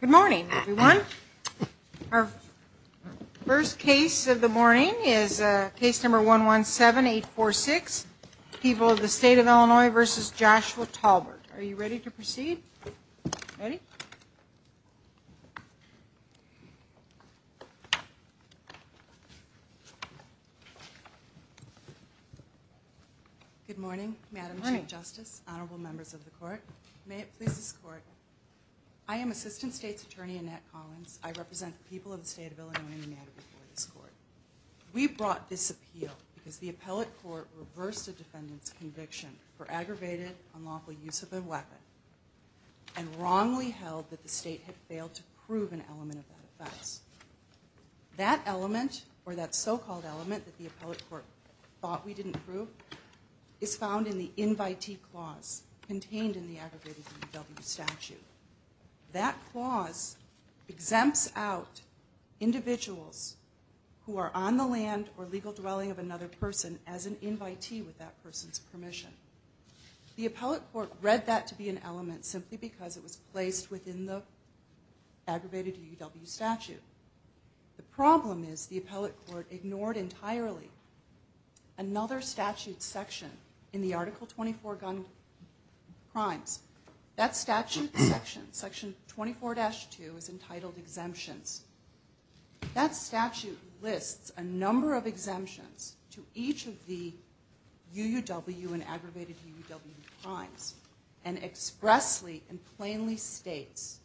Good morning, everyone. Our first case of the morning is case number 117846, People of the State of Illinois v. Joshua Tolbert. Are you ready to proceed? Ready? Good morning, Madam Chief Justice, Honorable Members of the Court. May it please this Court. I am Assistant State's Attorney Annette Collins. I represent the people of the State of Illinois in the matter before this Court. We brought this appeal because the appellate court reversed a defendant's conviction for aggravated, unlawful use of a weapon and wrongly held that the state had failed to prove an element of that offense. That element, or that so-called element that the appellate court thought we didn't prove, is found in the invitee clause contained in the aggravated UW statute. That clause exempts out individuals who are on the land or legal dwelling of another person as an invitee with that person's permission. The appellate court read that to be an element simply because it was placed within the aggravated UW statute. The problem is the appellate court ignored entirely another statute section in the Article 24 gun crimes. That statute section, Section 24-2, is entitled exemptions. That statute lists a number of exemptions to each of the UW and aggravated UW crimes and expressly and plainly states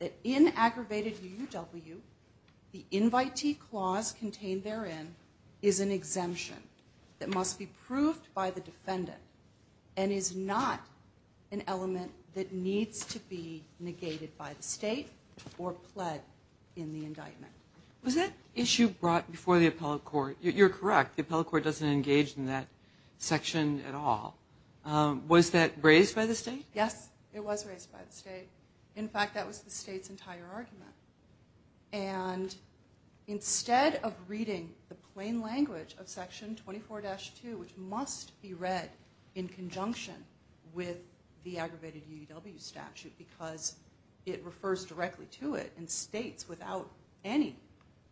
that in aggravated UW, the invitee clause contained therein is an exemption that must be proved by the defendant and is not an element that needs to be negated by the state or pled in the indictment. Was that issue brought before the appellate court? You're correct, the appellate court doesn't engage in that section at all. Was that raised by the state? Yes, it was raised by the state. In fact, that was the state's entire argument. And instead of reading the plain language of Section 24-2, which must be read in conjunction with the aggravated UW statute because it refers directly to it and states without any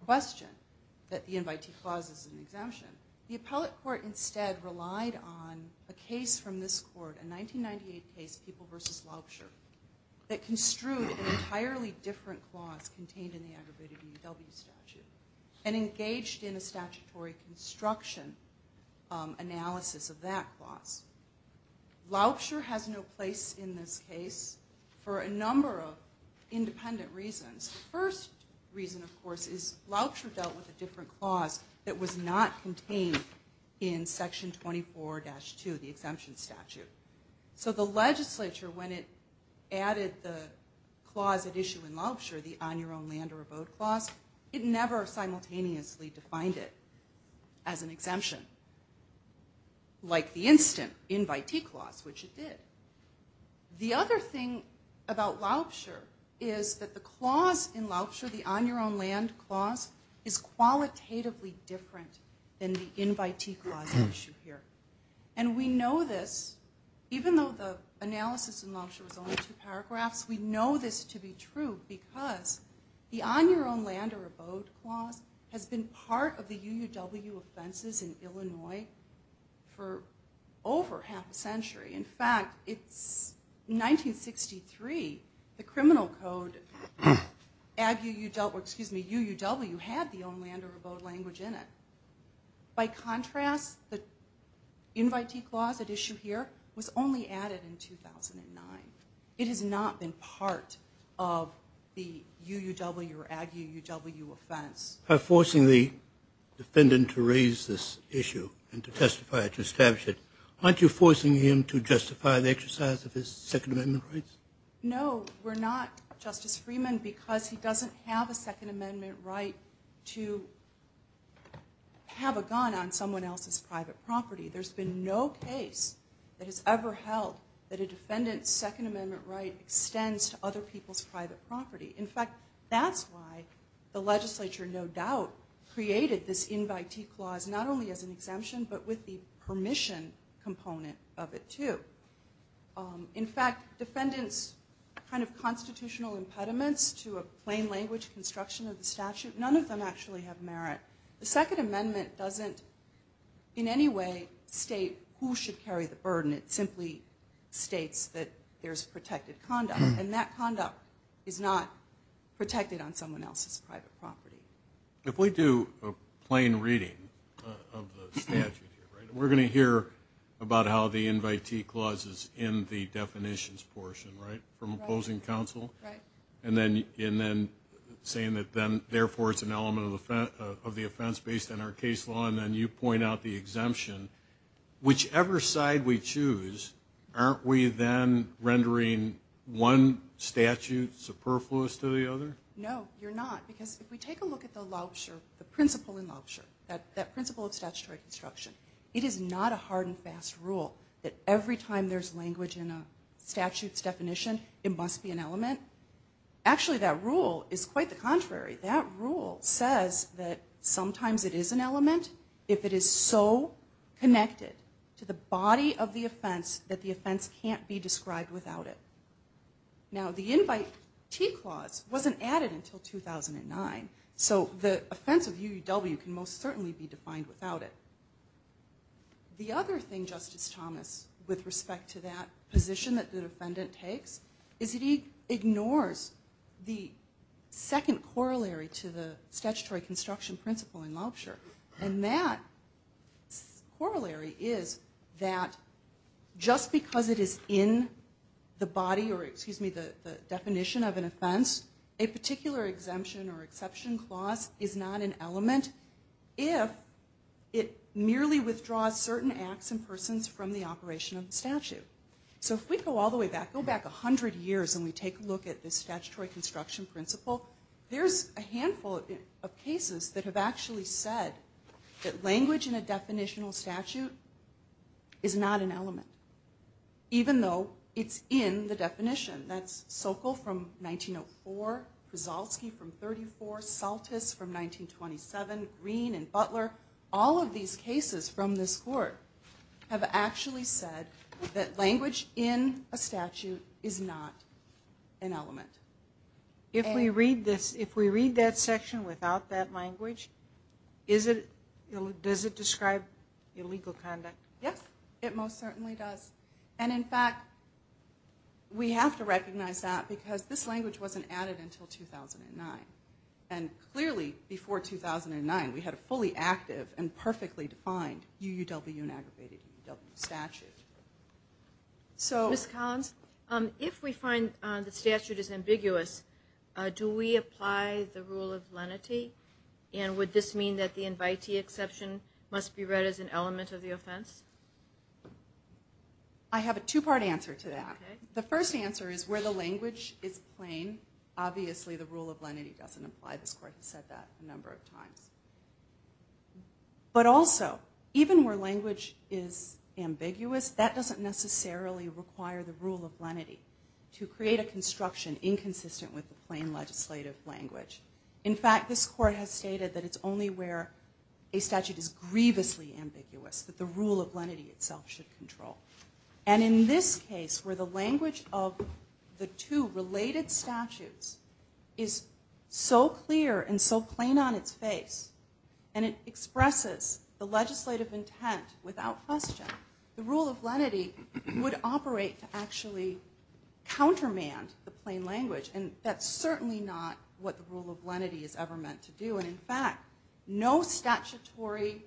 question that the invitee clause is an exemption, the appellate court instead relied on a case from this court, a 1998 case, People v. Laubscher, that construed an entirely different clause contained in the aggravated UW statute and engaged in a statutory construction analysis of that clause. Laubscher has no place in this case for a number of independent reasons. The first reason, of course, is Laubscher dealt with a different clause that was not contained in Section 24-2, the exemption statute. So the legislature, when it added the clause at issue in Laubscher, the on your own land or abode clause, it never simultaneously defined it as an exemption, like the instant invitee clause, which it did. The other thing about Laubscher is that the clause in Laubscher, the on your own land clause, is qualitatively different than the invitee clause at issue here. And we know this, even though the analysis in Laubscher is only two paragraphs, we know this to be true because the on your own land or abode clause has been part of the UW offenses in Illinois for over half a century. In fact, it's 1963, the criminal code, UUW, had the on your own land or abode language in it. By contrast, the invitee clause at issue here was only added in 2009. It has not been part of the UUW or ag UUW offense. By forcing the defendant to raise this issue and to testify, to establish it, aren't you forcing him to justify the exercise of his Second Amendment rights? No, we're not, Justice Freeman, because he doesn't have a Second Amendment right to have a gun on someone else's private property. There's been no case that has ever held that a defendant's Second Amendment right extends to other people's private property. In fact, that's why the legislature, no doubt, created this invitee clause, not only as an exemption, but with the permission component of it, too. In fact, defendants' kind of constitutional impediments to a plain language construction of the statute, none of them actually have merit. The Second Amendment doesn't in any way state who should carry the burden. It simply states that there's protected conduct, and that conduct is not protected on someone else's private property. If we do a plain reading of the statute here, we're going to hear about how the invitee clause is in the definitions portion, from opposing counsel, and then saying that therefore it's an element of the offense based on our case law, and then you point out the exemption. Whichever side we choose, aren't we then rendering one statute superfluous to the other? No, you're not. Because if we take a look at the principle in Lobsher, that principle of statutory construction, it is not a hard and fast rule that every time there's language in a statute's definition, it must be an element. Actually, that rule is quite the contrary. That rule says that sometimes it is an element if it is so connected to the body of the offense that the offense can't be described without it. Now, the invitee clause wasn't added until 2009, so the offense of UUW can most certainly be defined without it. The other thing, Justice Thomas, with respect to that position that the defendant takes, is that he ignores the second corollary to the statutory construction principle in Lobsher. And that corollary is that just because it is in the body or, excuse me, the definition of an offense, a particular exemption or exception clause is not an element if it merely withdraws certain acts and persons from the operation of the statute. So if we go all the way back, go back 100 years, and we take a look at the statutory construction principle, there's a handful of cases that have actually said that language in a definitional statute is not an element, even though it's in the definition. That's Sokol from 1904, Krzalski from 1934, Saltis from 1927, Green and Butler. All of these cases from this court have actually said that language in a statute is not an element. If we read that section without that language, does it describe illegal conduct? Yes, it most certainly does. And in fact, we have to recognize that because this language wasn't added until 2009. And clearly, before 2009, we had a fully active and perfectly defined UUW and aggravated UUW statute. Ms. Collins, if we find the statute is ambiguous, do we apply the rule of lenity? And would this mean that the invitee exception must be read as an element of the offense? I have a two-part answer to that. The first answer is where the language is plain, obviously the rule of lenity doesn't apply. This court has said that a number of times. But also, even where language is ambiguous, that doesn't necessarily require the rule of lenity to create a construction inconsistent with the plain legislative language. In fact, this court has stated that it's only where a statute is grievously ambiguous, that the rule of lenity itself should control. And in this case, where the language of the two related statutes is so clear and so plain on its face, and it expresses the legislative intent without question, the rule of lenity would operate to actually countermand the plain language. And that's certainly not what the rule of lenity is ever meant to do. And in fact, no statutory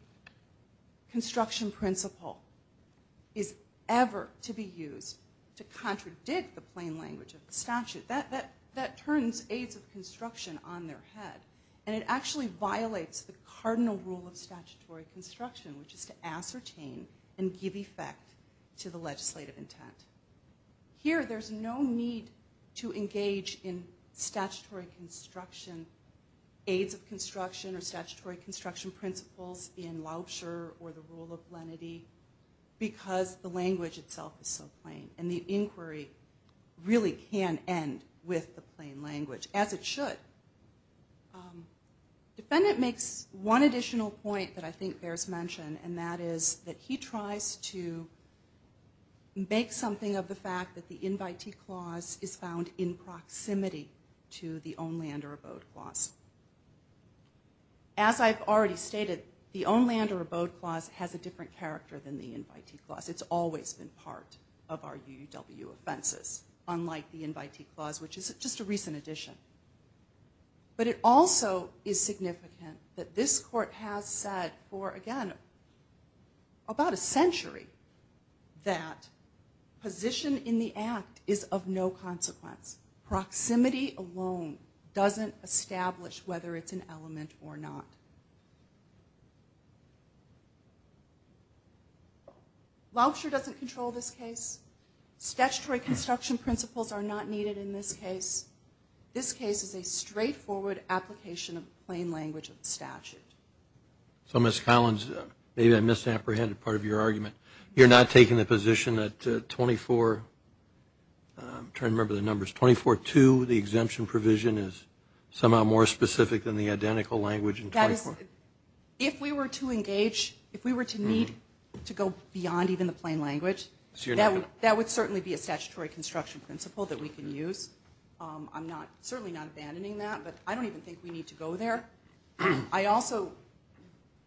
construction principle is ever to be used to contradict the plain language of the statute. That turns aides of construction on their head. And it actually violates the cardinal rule of statutory construction, which is to ascertain and give effect to the legislative intent. Here, there's no need to engage in statutory construction, aides of construction or statutory construction principles in Laubscher or the rule of lenity, because the language itself is so plain. And the inquiry really can end with the plain language, as it should. The defendant makes one additional point that I think bears mention, and that is that he tries to make something of the fact that the invitee clause is found in proximity to the own land or abode clause. As I've already stated, the own land or abode clause has a different character than the invitee clause. It's always been part of our UUW offenses, unlike the invitee clause, which is just a recent addition. But it also is significant that this court has said for, again, about a century that position in the act is of no consequence. Proximity alone doesn't establish whether it's an element or not. Laubscher doesn't control this case. Statutory construction principles are not needed in this case. This case is a straightforward application of plain language of the statute. So, Ms. Collins, maybe I misapprehended part of your argument. You're not taking the position that 24, I'm trying to remember the numbers, 24-2, the exemption provision is somehow more specific than the identical language in 24. If we were to engage, if we were to need to go beyond even the plain language, that would certainly be a statutory construction principle that we can use. I'm certainly not abandoning that, but I don't even think we need to go there. I also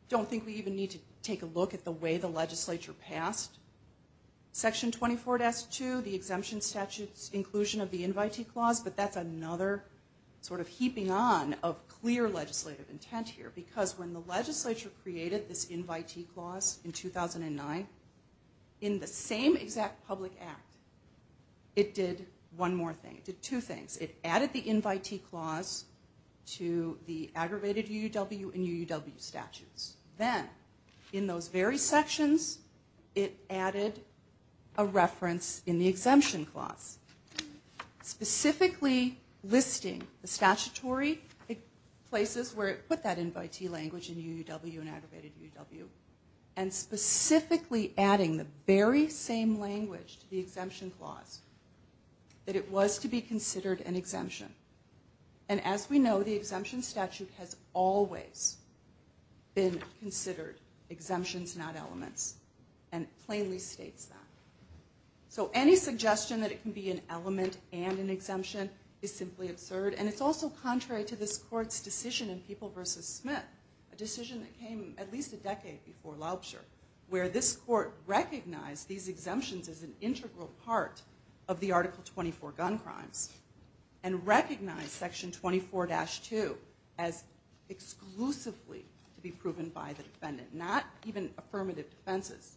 don't think we even need to take a look at the way the legislature passed Section 24-2, the exemption statute's inclusion of the invitee clause, but that's another sort of heaping on of clear legislative intent here, because when the legislature created this invitee clause in 2009, in the same exact public act, it did one more thing. It did two things. It added the invitee clause to the aggravated UUW and UUW statutes. Then, in those very sections, it added a reference in the exemption clause, specifically listing the statutory places where it put that invitee language in UUW and aggravated UUW, and specifically adding the very same language to the exemption clause that it was to be considered an exemption. And as we know, the exemption statute has always been considered exemptions, not elements, and it plainly states that. So any suggestion that it can be an element and an exemption is simply absurd, and it's also contrary to this court's decision in People v. Smith, a decision that came at least a decade before Laubscher, where this court recognized these exemptions as an integral part of the Article 24 gun crimes and recognized Section 24-2 as exclusively to be proven by the defendant, not even affirmative defenses.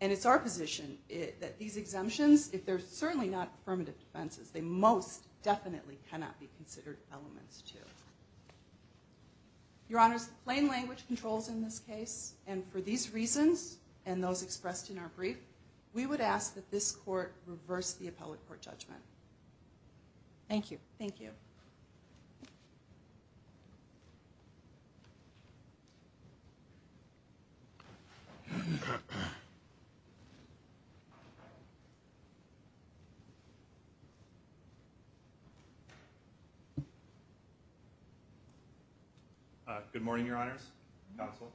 And it's our position that these exemptions, if they're certainly not affirmative defenses, they most definitely cannot be considered elements, too. Your Honors, plain language controls in this case, and for these reasons and those expressed in our brief, we would ask that this court reverse the appellate court judgment. Thank you. Thank you. Good morning, Your Honors, Counsel,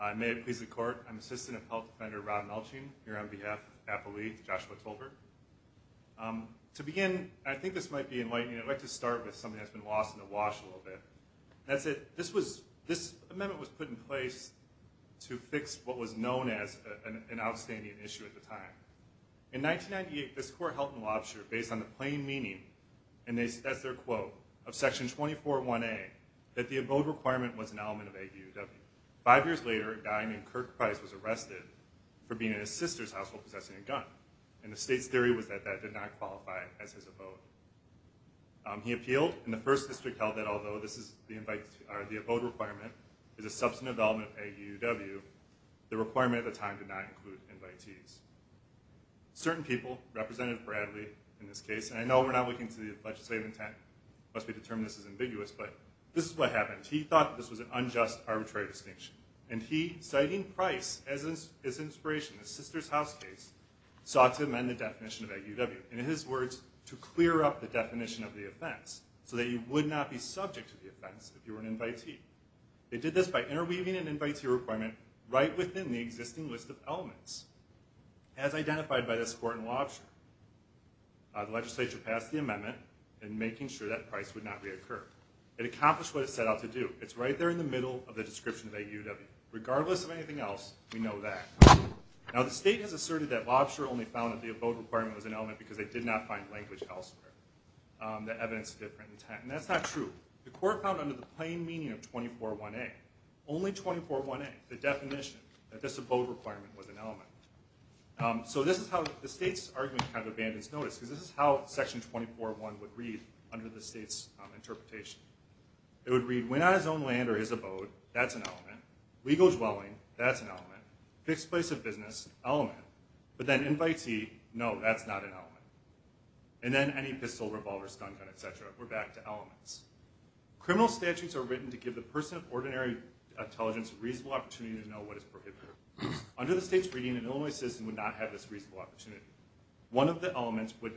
and may it please the Court, I'm Assistant Appellant Defender Rob Melching, here on behalf of Appellee Joshua Tolbert. To begin, I think this might be enlightening, I'd like to start with something that's been lost in the wash a little bit. This amendment was put in place to fix what was known as an outstanding issue at the time. In 1998, this court held in Laubscher, based on the plain meaning, and that's their quote, of Section 24-1A, that the abode requirement was an element of AUW. Five years later, a guy named Kirk Price was arrested for being in his sister's household possessing a gun, and the state's theory was that that did not qualify as his abode. He appealed, and the First District held that although the abode requirement is a substantive element of AUW, the requirement at the time did not include invitees. Certain people, Representative Bradley in this case, and I know we're not looking to the legislative intent, it must be determined this is ambiguous, but this is what happened. He thought this was an unjust, arbitrary distinction, and he, citing Price as his inspiration, his sister's house case, sought to amend the definition of AUW. In his words, to clear up the definition of the offense, so that you would not be subject to the offense if you were an invitee. They did this by interweaving an invitee requirement right within the existing list of elements. As identified by this court in Laubscher, the legislature passed the amendment in making sure that Price would not reoccur. It accomplished what it set out to do. It's right there in the middle of the description of AUW. Regardless of anything else, we know that. Now the state has asserted that Laubscher only found that the abode requirement was an element because they did not find language elsewhere that evidenced a different intent, and that's not true. The court found under the plain meaning of 24-1A, only 24-1A, the definition, that this abode requirement was an element. So this is how the state's argument kind of abandons notice, because this is how Section 24-1 would read under the state's interpretation. It would read, when on his own land or his abode, that's an element. Legal dwelling, that's an element. Fixed place of business, element. But then invitee, no, that's not an element. And then any pistol, revolver, stun gun, et cetera, we're back to elements. Criminal statutes are written to give the person of ordinary intelligence a reasonable opportunity to know what is prohibited. Under the state's reading, an Illinois citizen would not have this reasonable opportunity. One of the elements would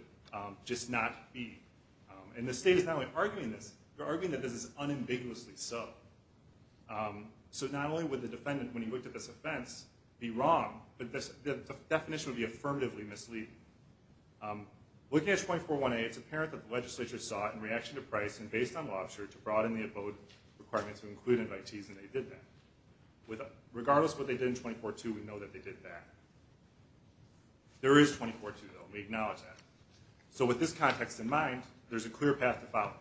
just not be. And the state is not only arguing this, they're arguing that this is unambiguously so. So not only would the defendant, when he looked at this offense, be wrong, but the definition would be affirmatively misleading. Looking at 24-1A, it's apparent that the legislature sought, in reaction to Price and based on Lobster, to broaden the abode requirement to include invitees, and they did that. Regardless of what they did in 24-2, we know that they did that. There is 24-2, though, and we acknowledge that. So with this context in mind, there's a clear path to follow.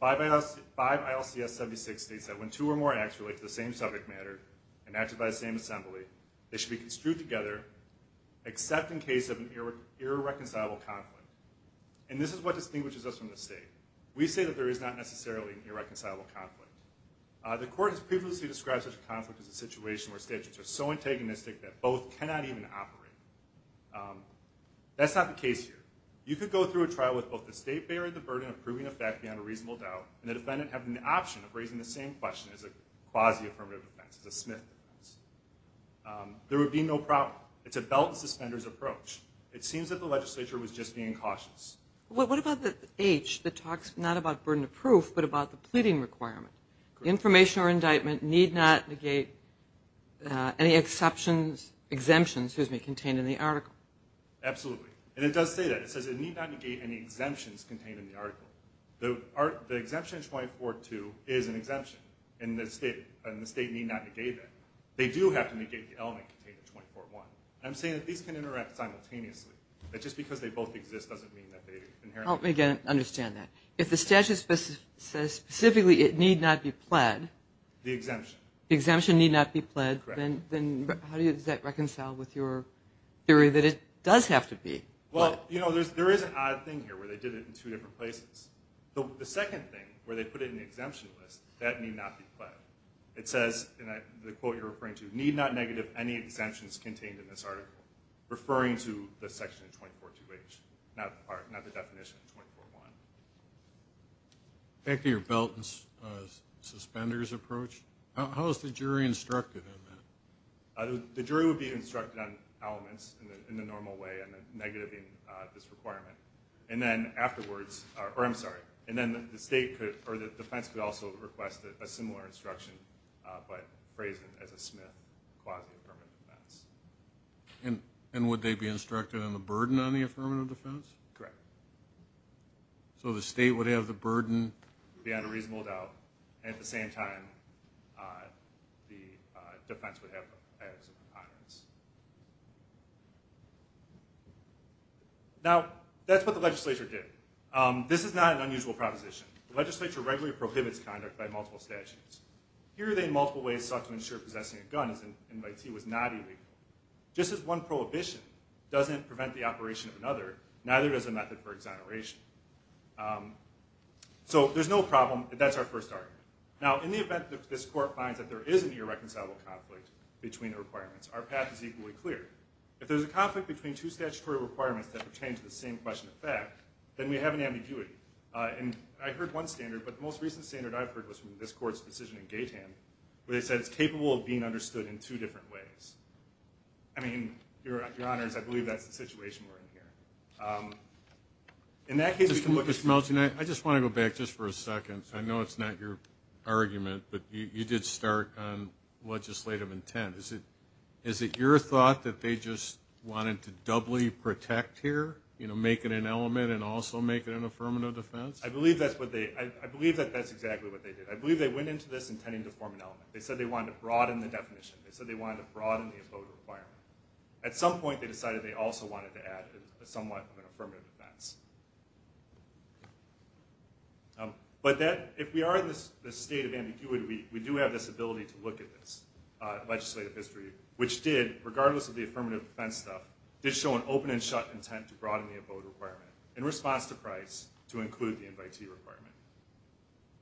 5 ILCS 76 states that when two or more acts relate to the same subject matter and acted by the same assembly, they should be construed together, except in case of an irreconcilable conflict. And this is what distinguishes us from the state. We say that there is not necessarily an irreconcilable conflict. The court has previously described such a conflict as a situation where statutes are so antagonistic that both cannot even operate. That's not the case here. You could go through a trial with both the state bearing the burden of proving a fact beyond a reasonable doubt, and the defendant having the option of raising the same question as a quasi-affirmative offense, as a Smith offense. There would be no problem. It's a belt-and-suspenders approach. It seems that the legislature was just being cautious. What about the H that talks not about burden of proof, but about the pleading requirement? Information or indictment need not negate any exemptions contained in the article. Absolutely. And it does say that. It says it need not negate any exemptions contained in the article. The exemption in 24.2 is an exemption, and the state need not negate that. They do have to negate the element contained in 24.1. I'm saying that these can interact simultaneously, that just because they both exist doesn't mean that they inherently do. Help me understand that. If the statute says specifically it need not be pled. The exemption. The exemption need not be pled. Correct. Then how does that reconcile with your theory that it does have to be? Well, you know, there is an odd thing here where they did it in two different places. The second thing, where they put it in the exemption list, that need not be pled. It says, in the quote you're referring to, need not negate any exemptions contained in this article, referring to the section 24.2H, not the part, not the definition of 24.1. Back to your belt and suspenders approach, how is the jury instructed in that? The jury would be instructed on elements in the normal way, and the negative being this requirement. And then afterwards, or I'm sorry, and then the defense could also request a similar instruction, but phrased as a Smith quasi-affirmative defense. And would they be instructed on the burden on the affirmative defense? Correct. So the state would have the burden? Beyond a reasonable doubt. And at the same time, the defense would have the ethics and preponderance. Now, that's what the legislature did. This is not an unusual proposition. The legislature regularly prohibits conduct by multiple statutes. Here they, in multiple ways, sought to ensure possessing a gun in MIT was not illegal. Just as one prohibition doesn't prevent the operation of another, neither does a method for exoneration. So there's no problem. That's our first argument. Now, in the event that this court finds that there is an irreconcilable conflict between the requirements, our path is equally clear. If there's a conflict between two statutory requirements that pertain to the same question of fact, then we have an ambiguity. And I heard one standard, but the most recent standard I've heard was from this court's decision in Gaitan, where they said it's capable of being understood in two different ways. I mean, Your Honors, I believe that's the situation we're in here. In that case, we can look at this. Mr. Melton, I just want to go back just for a second. I know it's not your argument, but you did start on legislative intent. Is it your thought that they just wanted to doubly protect here, you know, make it an element and also make it an affirmative defense? I believe that's exactly what they did. I believe they went into this intending to form an element. They said they wanted to broaden the definition. They said they wanted to broaden the abode requirement. At some point, they decided they also wanted to add somewhat of an affirmative defense. But if we are in this state of ambiguity, we do have this ability to look at this legislative history, which did, regardless of the affirmative defense stuff, did show an open and shut intent to broaden the abode requirement in response to price to include the invitee requirement.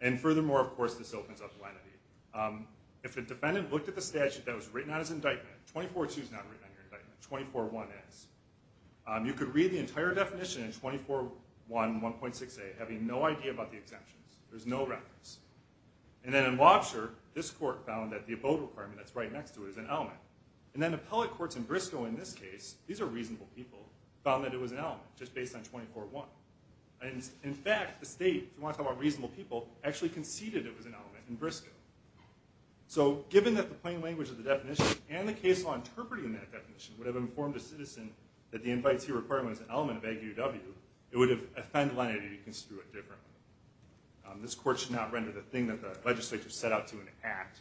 And furthermore, of course, this opens up lenity. If a defendant looked at the statute that was written on his indictment, 24.2 is not written on your indictment, 24.1 is, you could read the entire definition in 24.1, 1.6a, having no idea about the exemptions. There's no reference. And then in Lobsher, this court found that the abode requirement that's right next to it is an element. And then appellate courts in Briscoe in this case, these are reasonable people, found that it was an element, just based on 24.1. And in fact, the state, if you want to talk about reasonable people, actually conceded it was an element in Briscoe. So given that the plain language of the definition and the case law interpreting that definition would have informed a citizen that the invitee requirement is an element of AGUW, it would have offended lenity to construe it differently. This court should not render the thing that the legislature set out to enact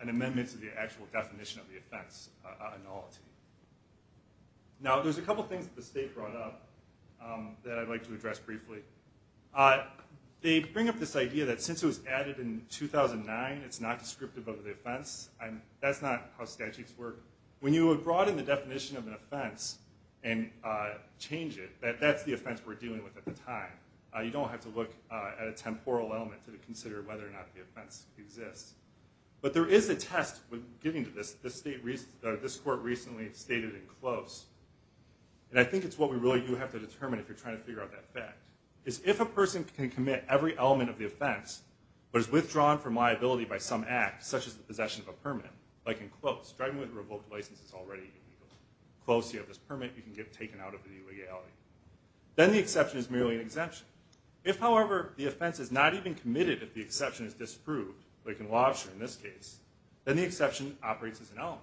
an amendment to the actual definition of the offense a nullity. Now, there's a couple things that the state brought up that I'd like to address briefly. They bring up this idea that since it was added in 2009, it's not descriptive of the offense. That's not how statutes work. When you broaden the definition of an offense and change it, that's the offense we're dealing with at the time. You don't have to look at a temporal element to consider whether or not the offense exists. But there is a test when getting to this. This court recently stated in Close, and I think it's what we really do have to determine if you're trying to figure out that fact, is if a person can commit every element of the offense, but is withdrawn from liability by some act, such as the possession of a permit, like in Close, driving with a revoked license is already illegal. Close, you have this permit, you can get taken out of the legality. Then the exception is merely an exemption. If, however, the offense is not even committed if the exception is disproved, like in Lobster in this case, then the exception operates as an element.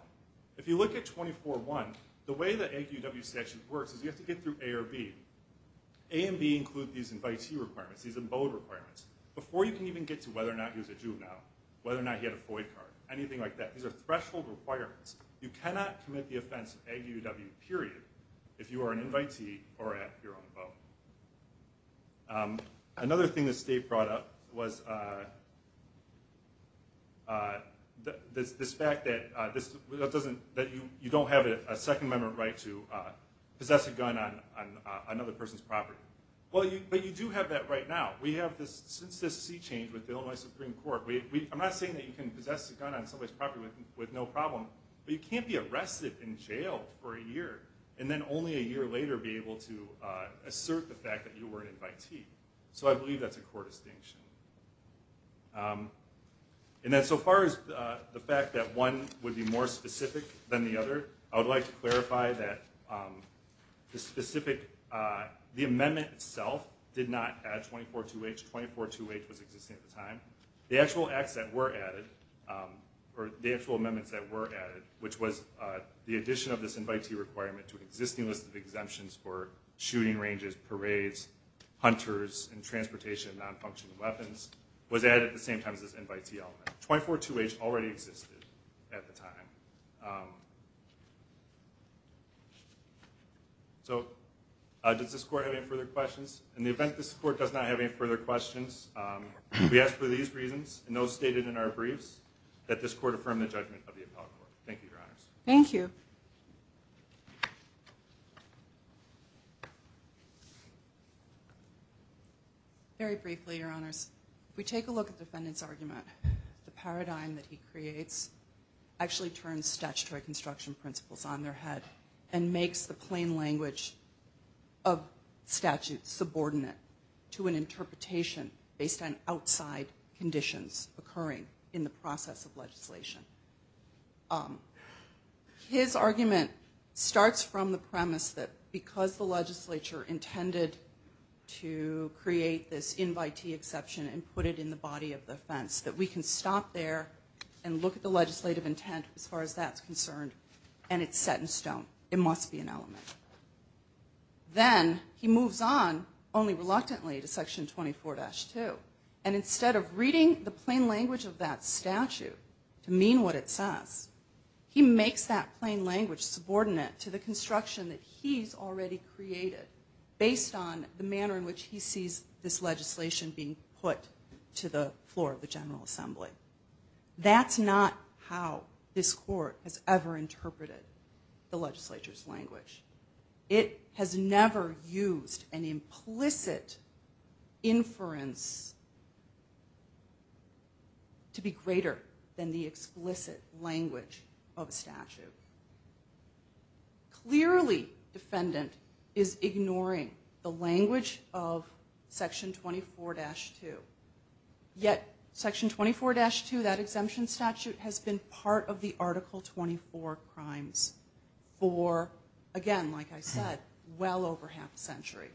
If you look at 24-1, the way the AG-UW statute works is you have to get through A or B. A and B include these invitee requirements, these abode requirements. Before you can even get to whether or not he was a juvenile, whether or not he had a FOIA card, anything like that. These are threshold requirements. You cannot commit the offense of AG-UW, period, if you are an invitee or at your own abode. Another thing the state brought up was this fact that you don't have a Second Amendment right to possess a gun on another person's property. But you do have that right now. Since this sea change with Illinois Supreme Court, I'm not saying that you can possess a gun on somebody's property with no problem, but you can't be arrested and jailed for a year, and then only a year later be able to assert the fact that you were an invitee. So I believe that's a core distinction. So far as the fact that one would be more specific than the other, I would like to clarify that the amendment itself did not add 24-2H. 24-2H was existing at the time. The actual acts that were added, or the actual amendments that were added, which was the addition of this invitee requirement to an existing list of exemptions for shooting ranges, parades, hunters, and transportation of nonfunctional weapons, was added at the same time as this invitee element. 24-2H already existed at the time. So does this Court have any further questions? In the event this Court does not have any further questions, we ask for these reasons, and those stated in our briefs, that this Court affirm the judgment of the appellate court. Thank you, Your Honors. Thank you. Very briefly, Your Honors, if we take a look at the defendant's argument, the paradigm that he creates actually turns statutory construction principles on their head and makes the plain language of statute subordinate to an interpretation based on outside conditions occurring in the process of legislation. His argument starts from the premise that because the legislature intended to create this invitee exception and put it in the body of the offense, that we can stop there and look at the legislative intent as far as that's concerned, and it's set in stone. It must be an element. Then he moves on only reluctantly to Section 24-2, and instead of reading the plain language of that statute to mean what it says, he makes that plain language subordinate to the construction that he's already created based on the manner in which he sees this legislation being put to the floor of the General Assembly. That's not how this court has ever interpreted the legislature's language. It has never used an implicit inference to be greater than the explicit language of a statute. Clearly, defendant is ignoring the language of Section 24-2, yet Section 24-2, that exemption statute, has been part of the Article 24 crimes for, again, like I said, well over half a century.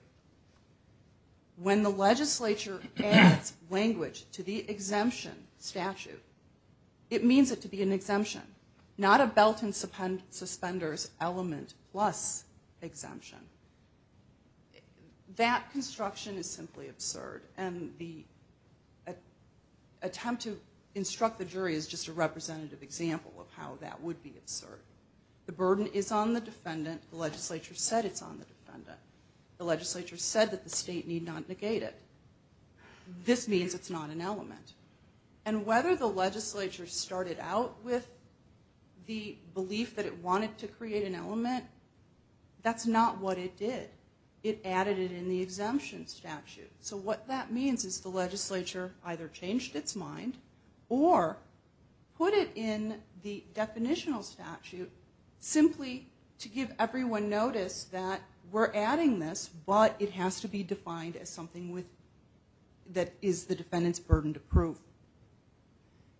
When the legislature adds language to the exemption statute, it means it to be an exemption, not a belt and suspenders element plus exemption. That construction is simply absurd, and the attempt to instruct the jury is just a representative example of how that would be absurd. The burden is on the defendant. The legislature said it's on the defendant. The legislature said that the state need not negate it. This means it's not an element, and whether the legislature started out with the belief that it wanted to create an element, that's not what it did. It added it in the exemption statute. What that means is the legislature either changed its mind or put it in the definitional statute simply to give everyone notice that we're adding this, but it has to be defined as something that is the defendant's burden to prove.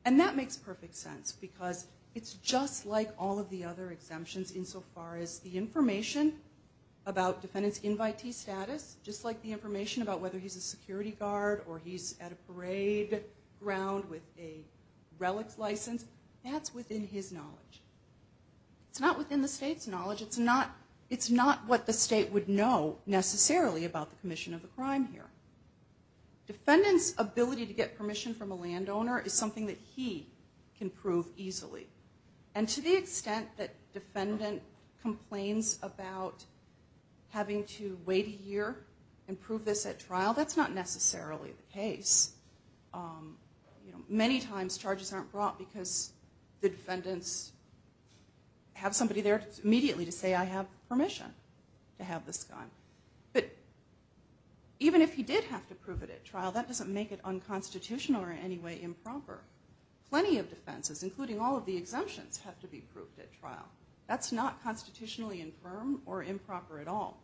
And that makes perfect sense because it's just like all of the other exemptions insofar as the information about defendant's invitee status, just like the information about whether he's a security guard or he's at a parade ground with a relics license, that's within his knowledge. It's not within the state's knowledge. It's not what the state would know necessarily about the commission of a crime here. Defendant's ability to get permission from a landowner is something that he can prove easily, and to the extent that defendant complains about having to wait a year and prove this at trial, that's not necessarily the case. Many times charges aren't brought because the defendants have somebody there immediately to say, I have permission to have this done. But even if he did have to prove it at trial, that doesn't make it unconstitutional or in any way improper. Plenty of defenses, including all of the exemptions, have to be proved at trial. That's not constitutionally infirm or improper at all.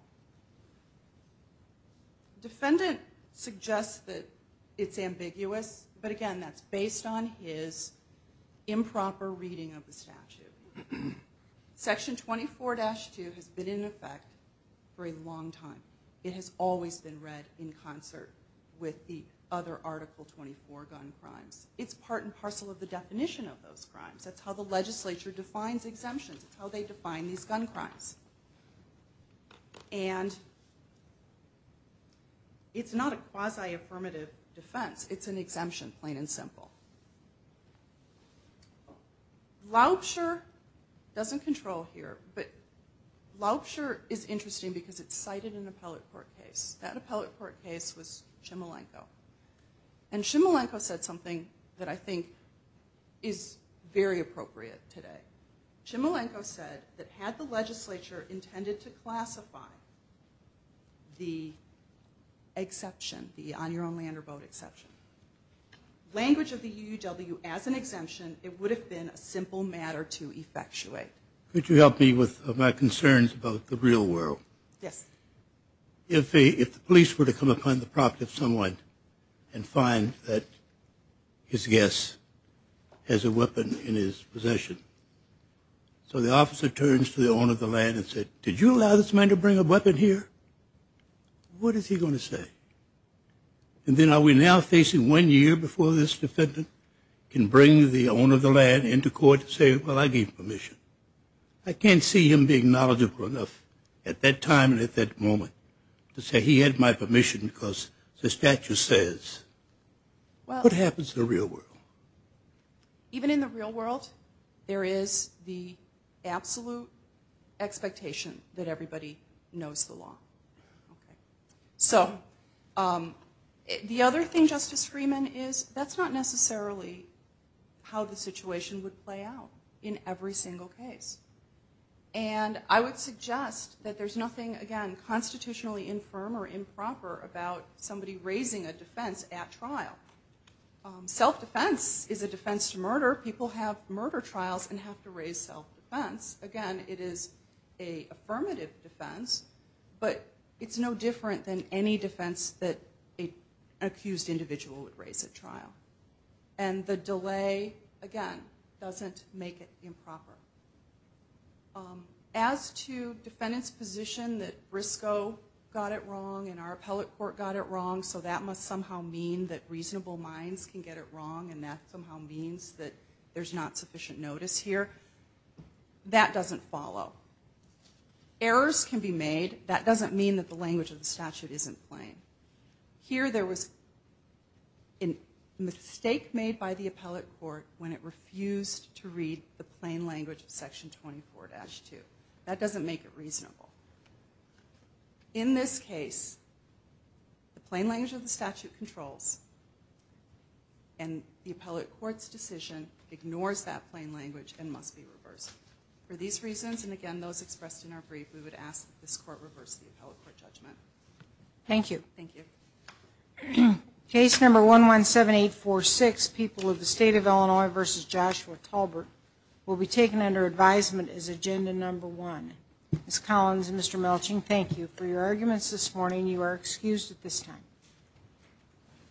Defendant suggests that it's ambiguous, but again, that's based on his improper reading of the statute. Section 24-2 has been in effect for a long time. It has always been read in concert with the other Article 24 gun crimes. It's part and parcel of the definition of those crimes. That's how the legislature defines exemptions. It's how they define these gun crimes. And it's not a quasi-affirmative defense. It's an exemption, plain and simple. Laubscher doesn't control here, but Laubscher is interesting because it's cited in an appellate court case. That appellate court case was Chmielenko. And Chmielenko said something that I think is very appropriate today. Chmielenko said that had the legislature intended to classify the exception, the on-your-own-land-or-boat exception, language of the UUW as an exemption, it would have been a simple matter to effectuate. Could you help me with my concerns about the real world? Yes. If the police were to come upon the property of someone and find that his guest has a weapon in his possession, so the officer turns to the owner of the land and said, did you allow this man to bring a weapon here? What is he going to say? And then are we now facing one year before this defendant can bring the owner of the land into court and say, well, I gave permission? I can't see him being knowledgeable enough at that time and at that moment to say he had my permission because the statute says. What happens in the real world? Even in the real world, there is the absolute expectation that everybody knows the law. So the other thing, Justice Freeman, is that's not necessarily how the situation would play out in every single case. And I would suggest that there's nothing, again, constitutionally infirm or improper Self-defense is a defense to murder. People have murder trials and have to raise self-defense. Again, it is an affirmative defense, but it's no different than any defense that an accused individual would raise at trial. And the delay, again, doesn't make it improper. As to defendants' position that Briscoe got it wrong and our appellate court got it wrong, so that must somehow mean that reasonable minds can get it wrong and that somehow means that there's not sufficient notice here, that doesn't follow. Errors can be made. That doesn't mean that the language of the statute isn't plain. Here there was a mistake made by the appellate court when it refused to read the plain language of Section 24-2. That doesn't make it reasonable. In this case, the plain language of the statute controls and the appellate court's decision ignores that plain language and must be reversed. For these reasons, and again, those expressed in our brief, we would ask that this court reverse the appellate court judgment. Thank you. Thank you. Case number 117846, People of the State of Illinois v. Joshua Talbert, will be taken under advisement as agenda number one. Ms. Collins and Mr. Melching, thank you for your arguments this morning. You are excused at this time.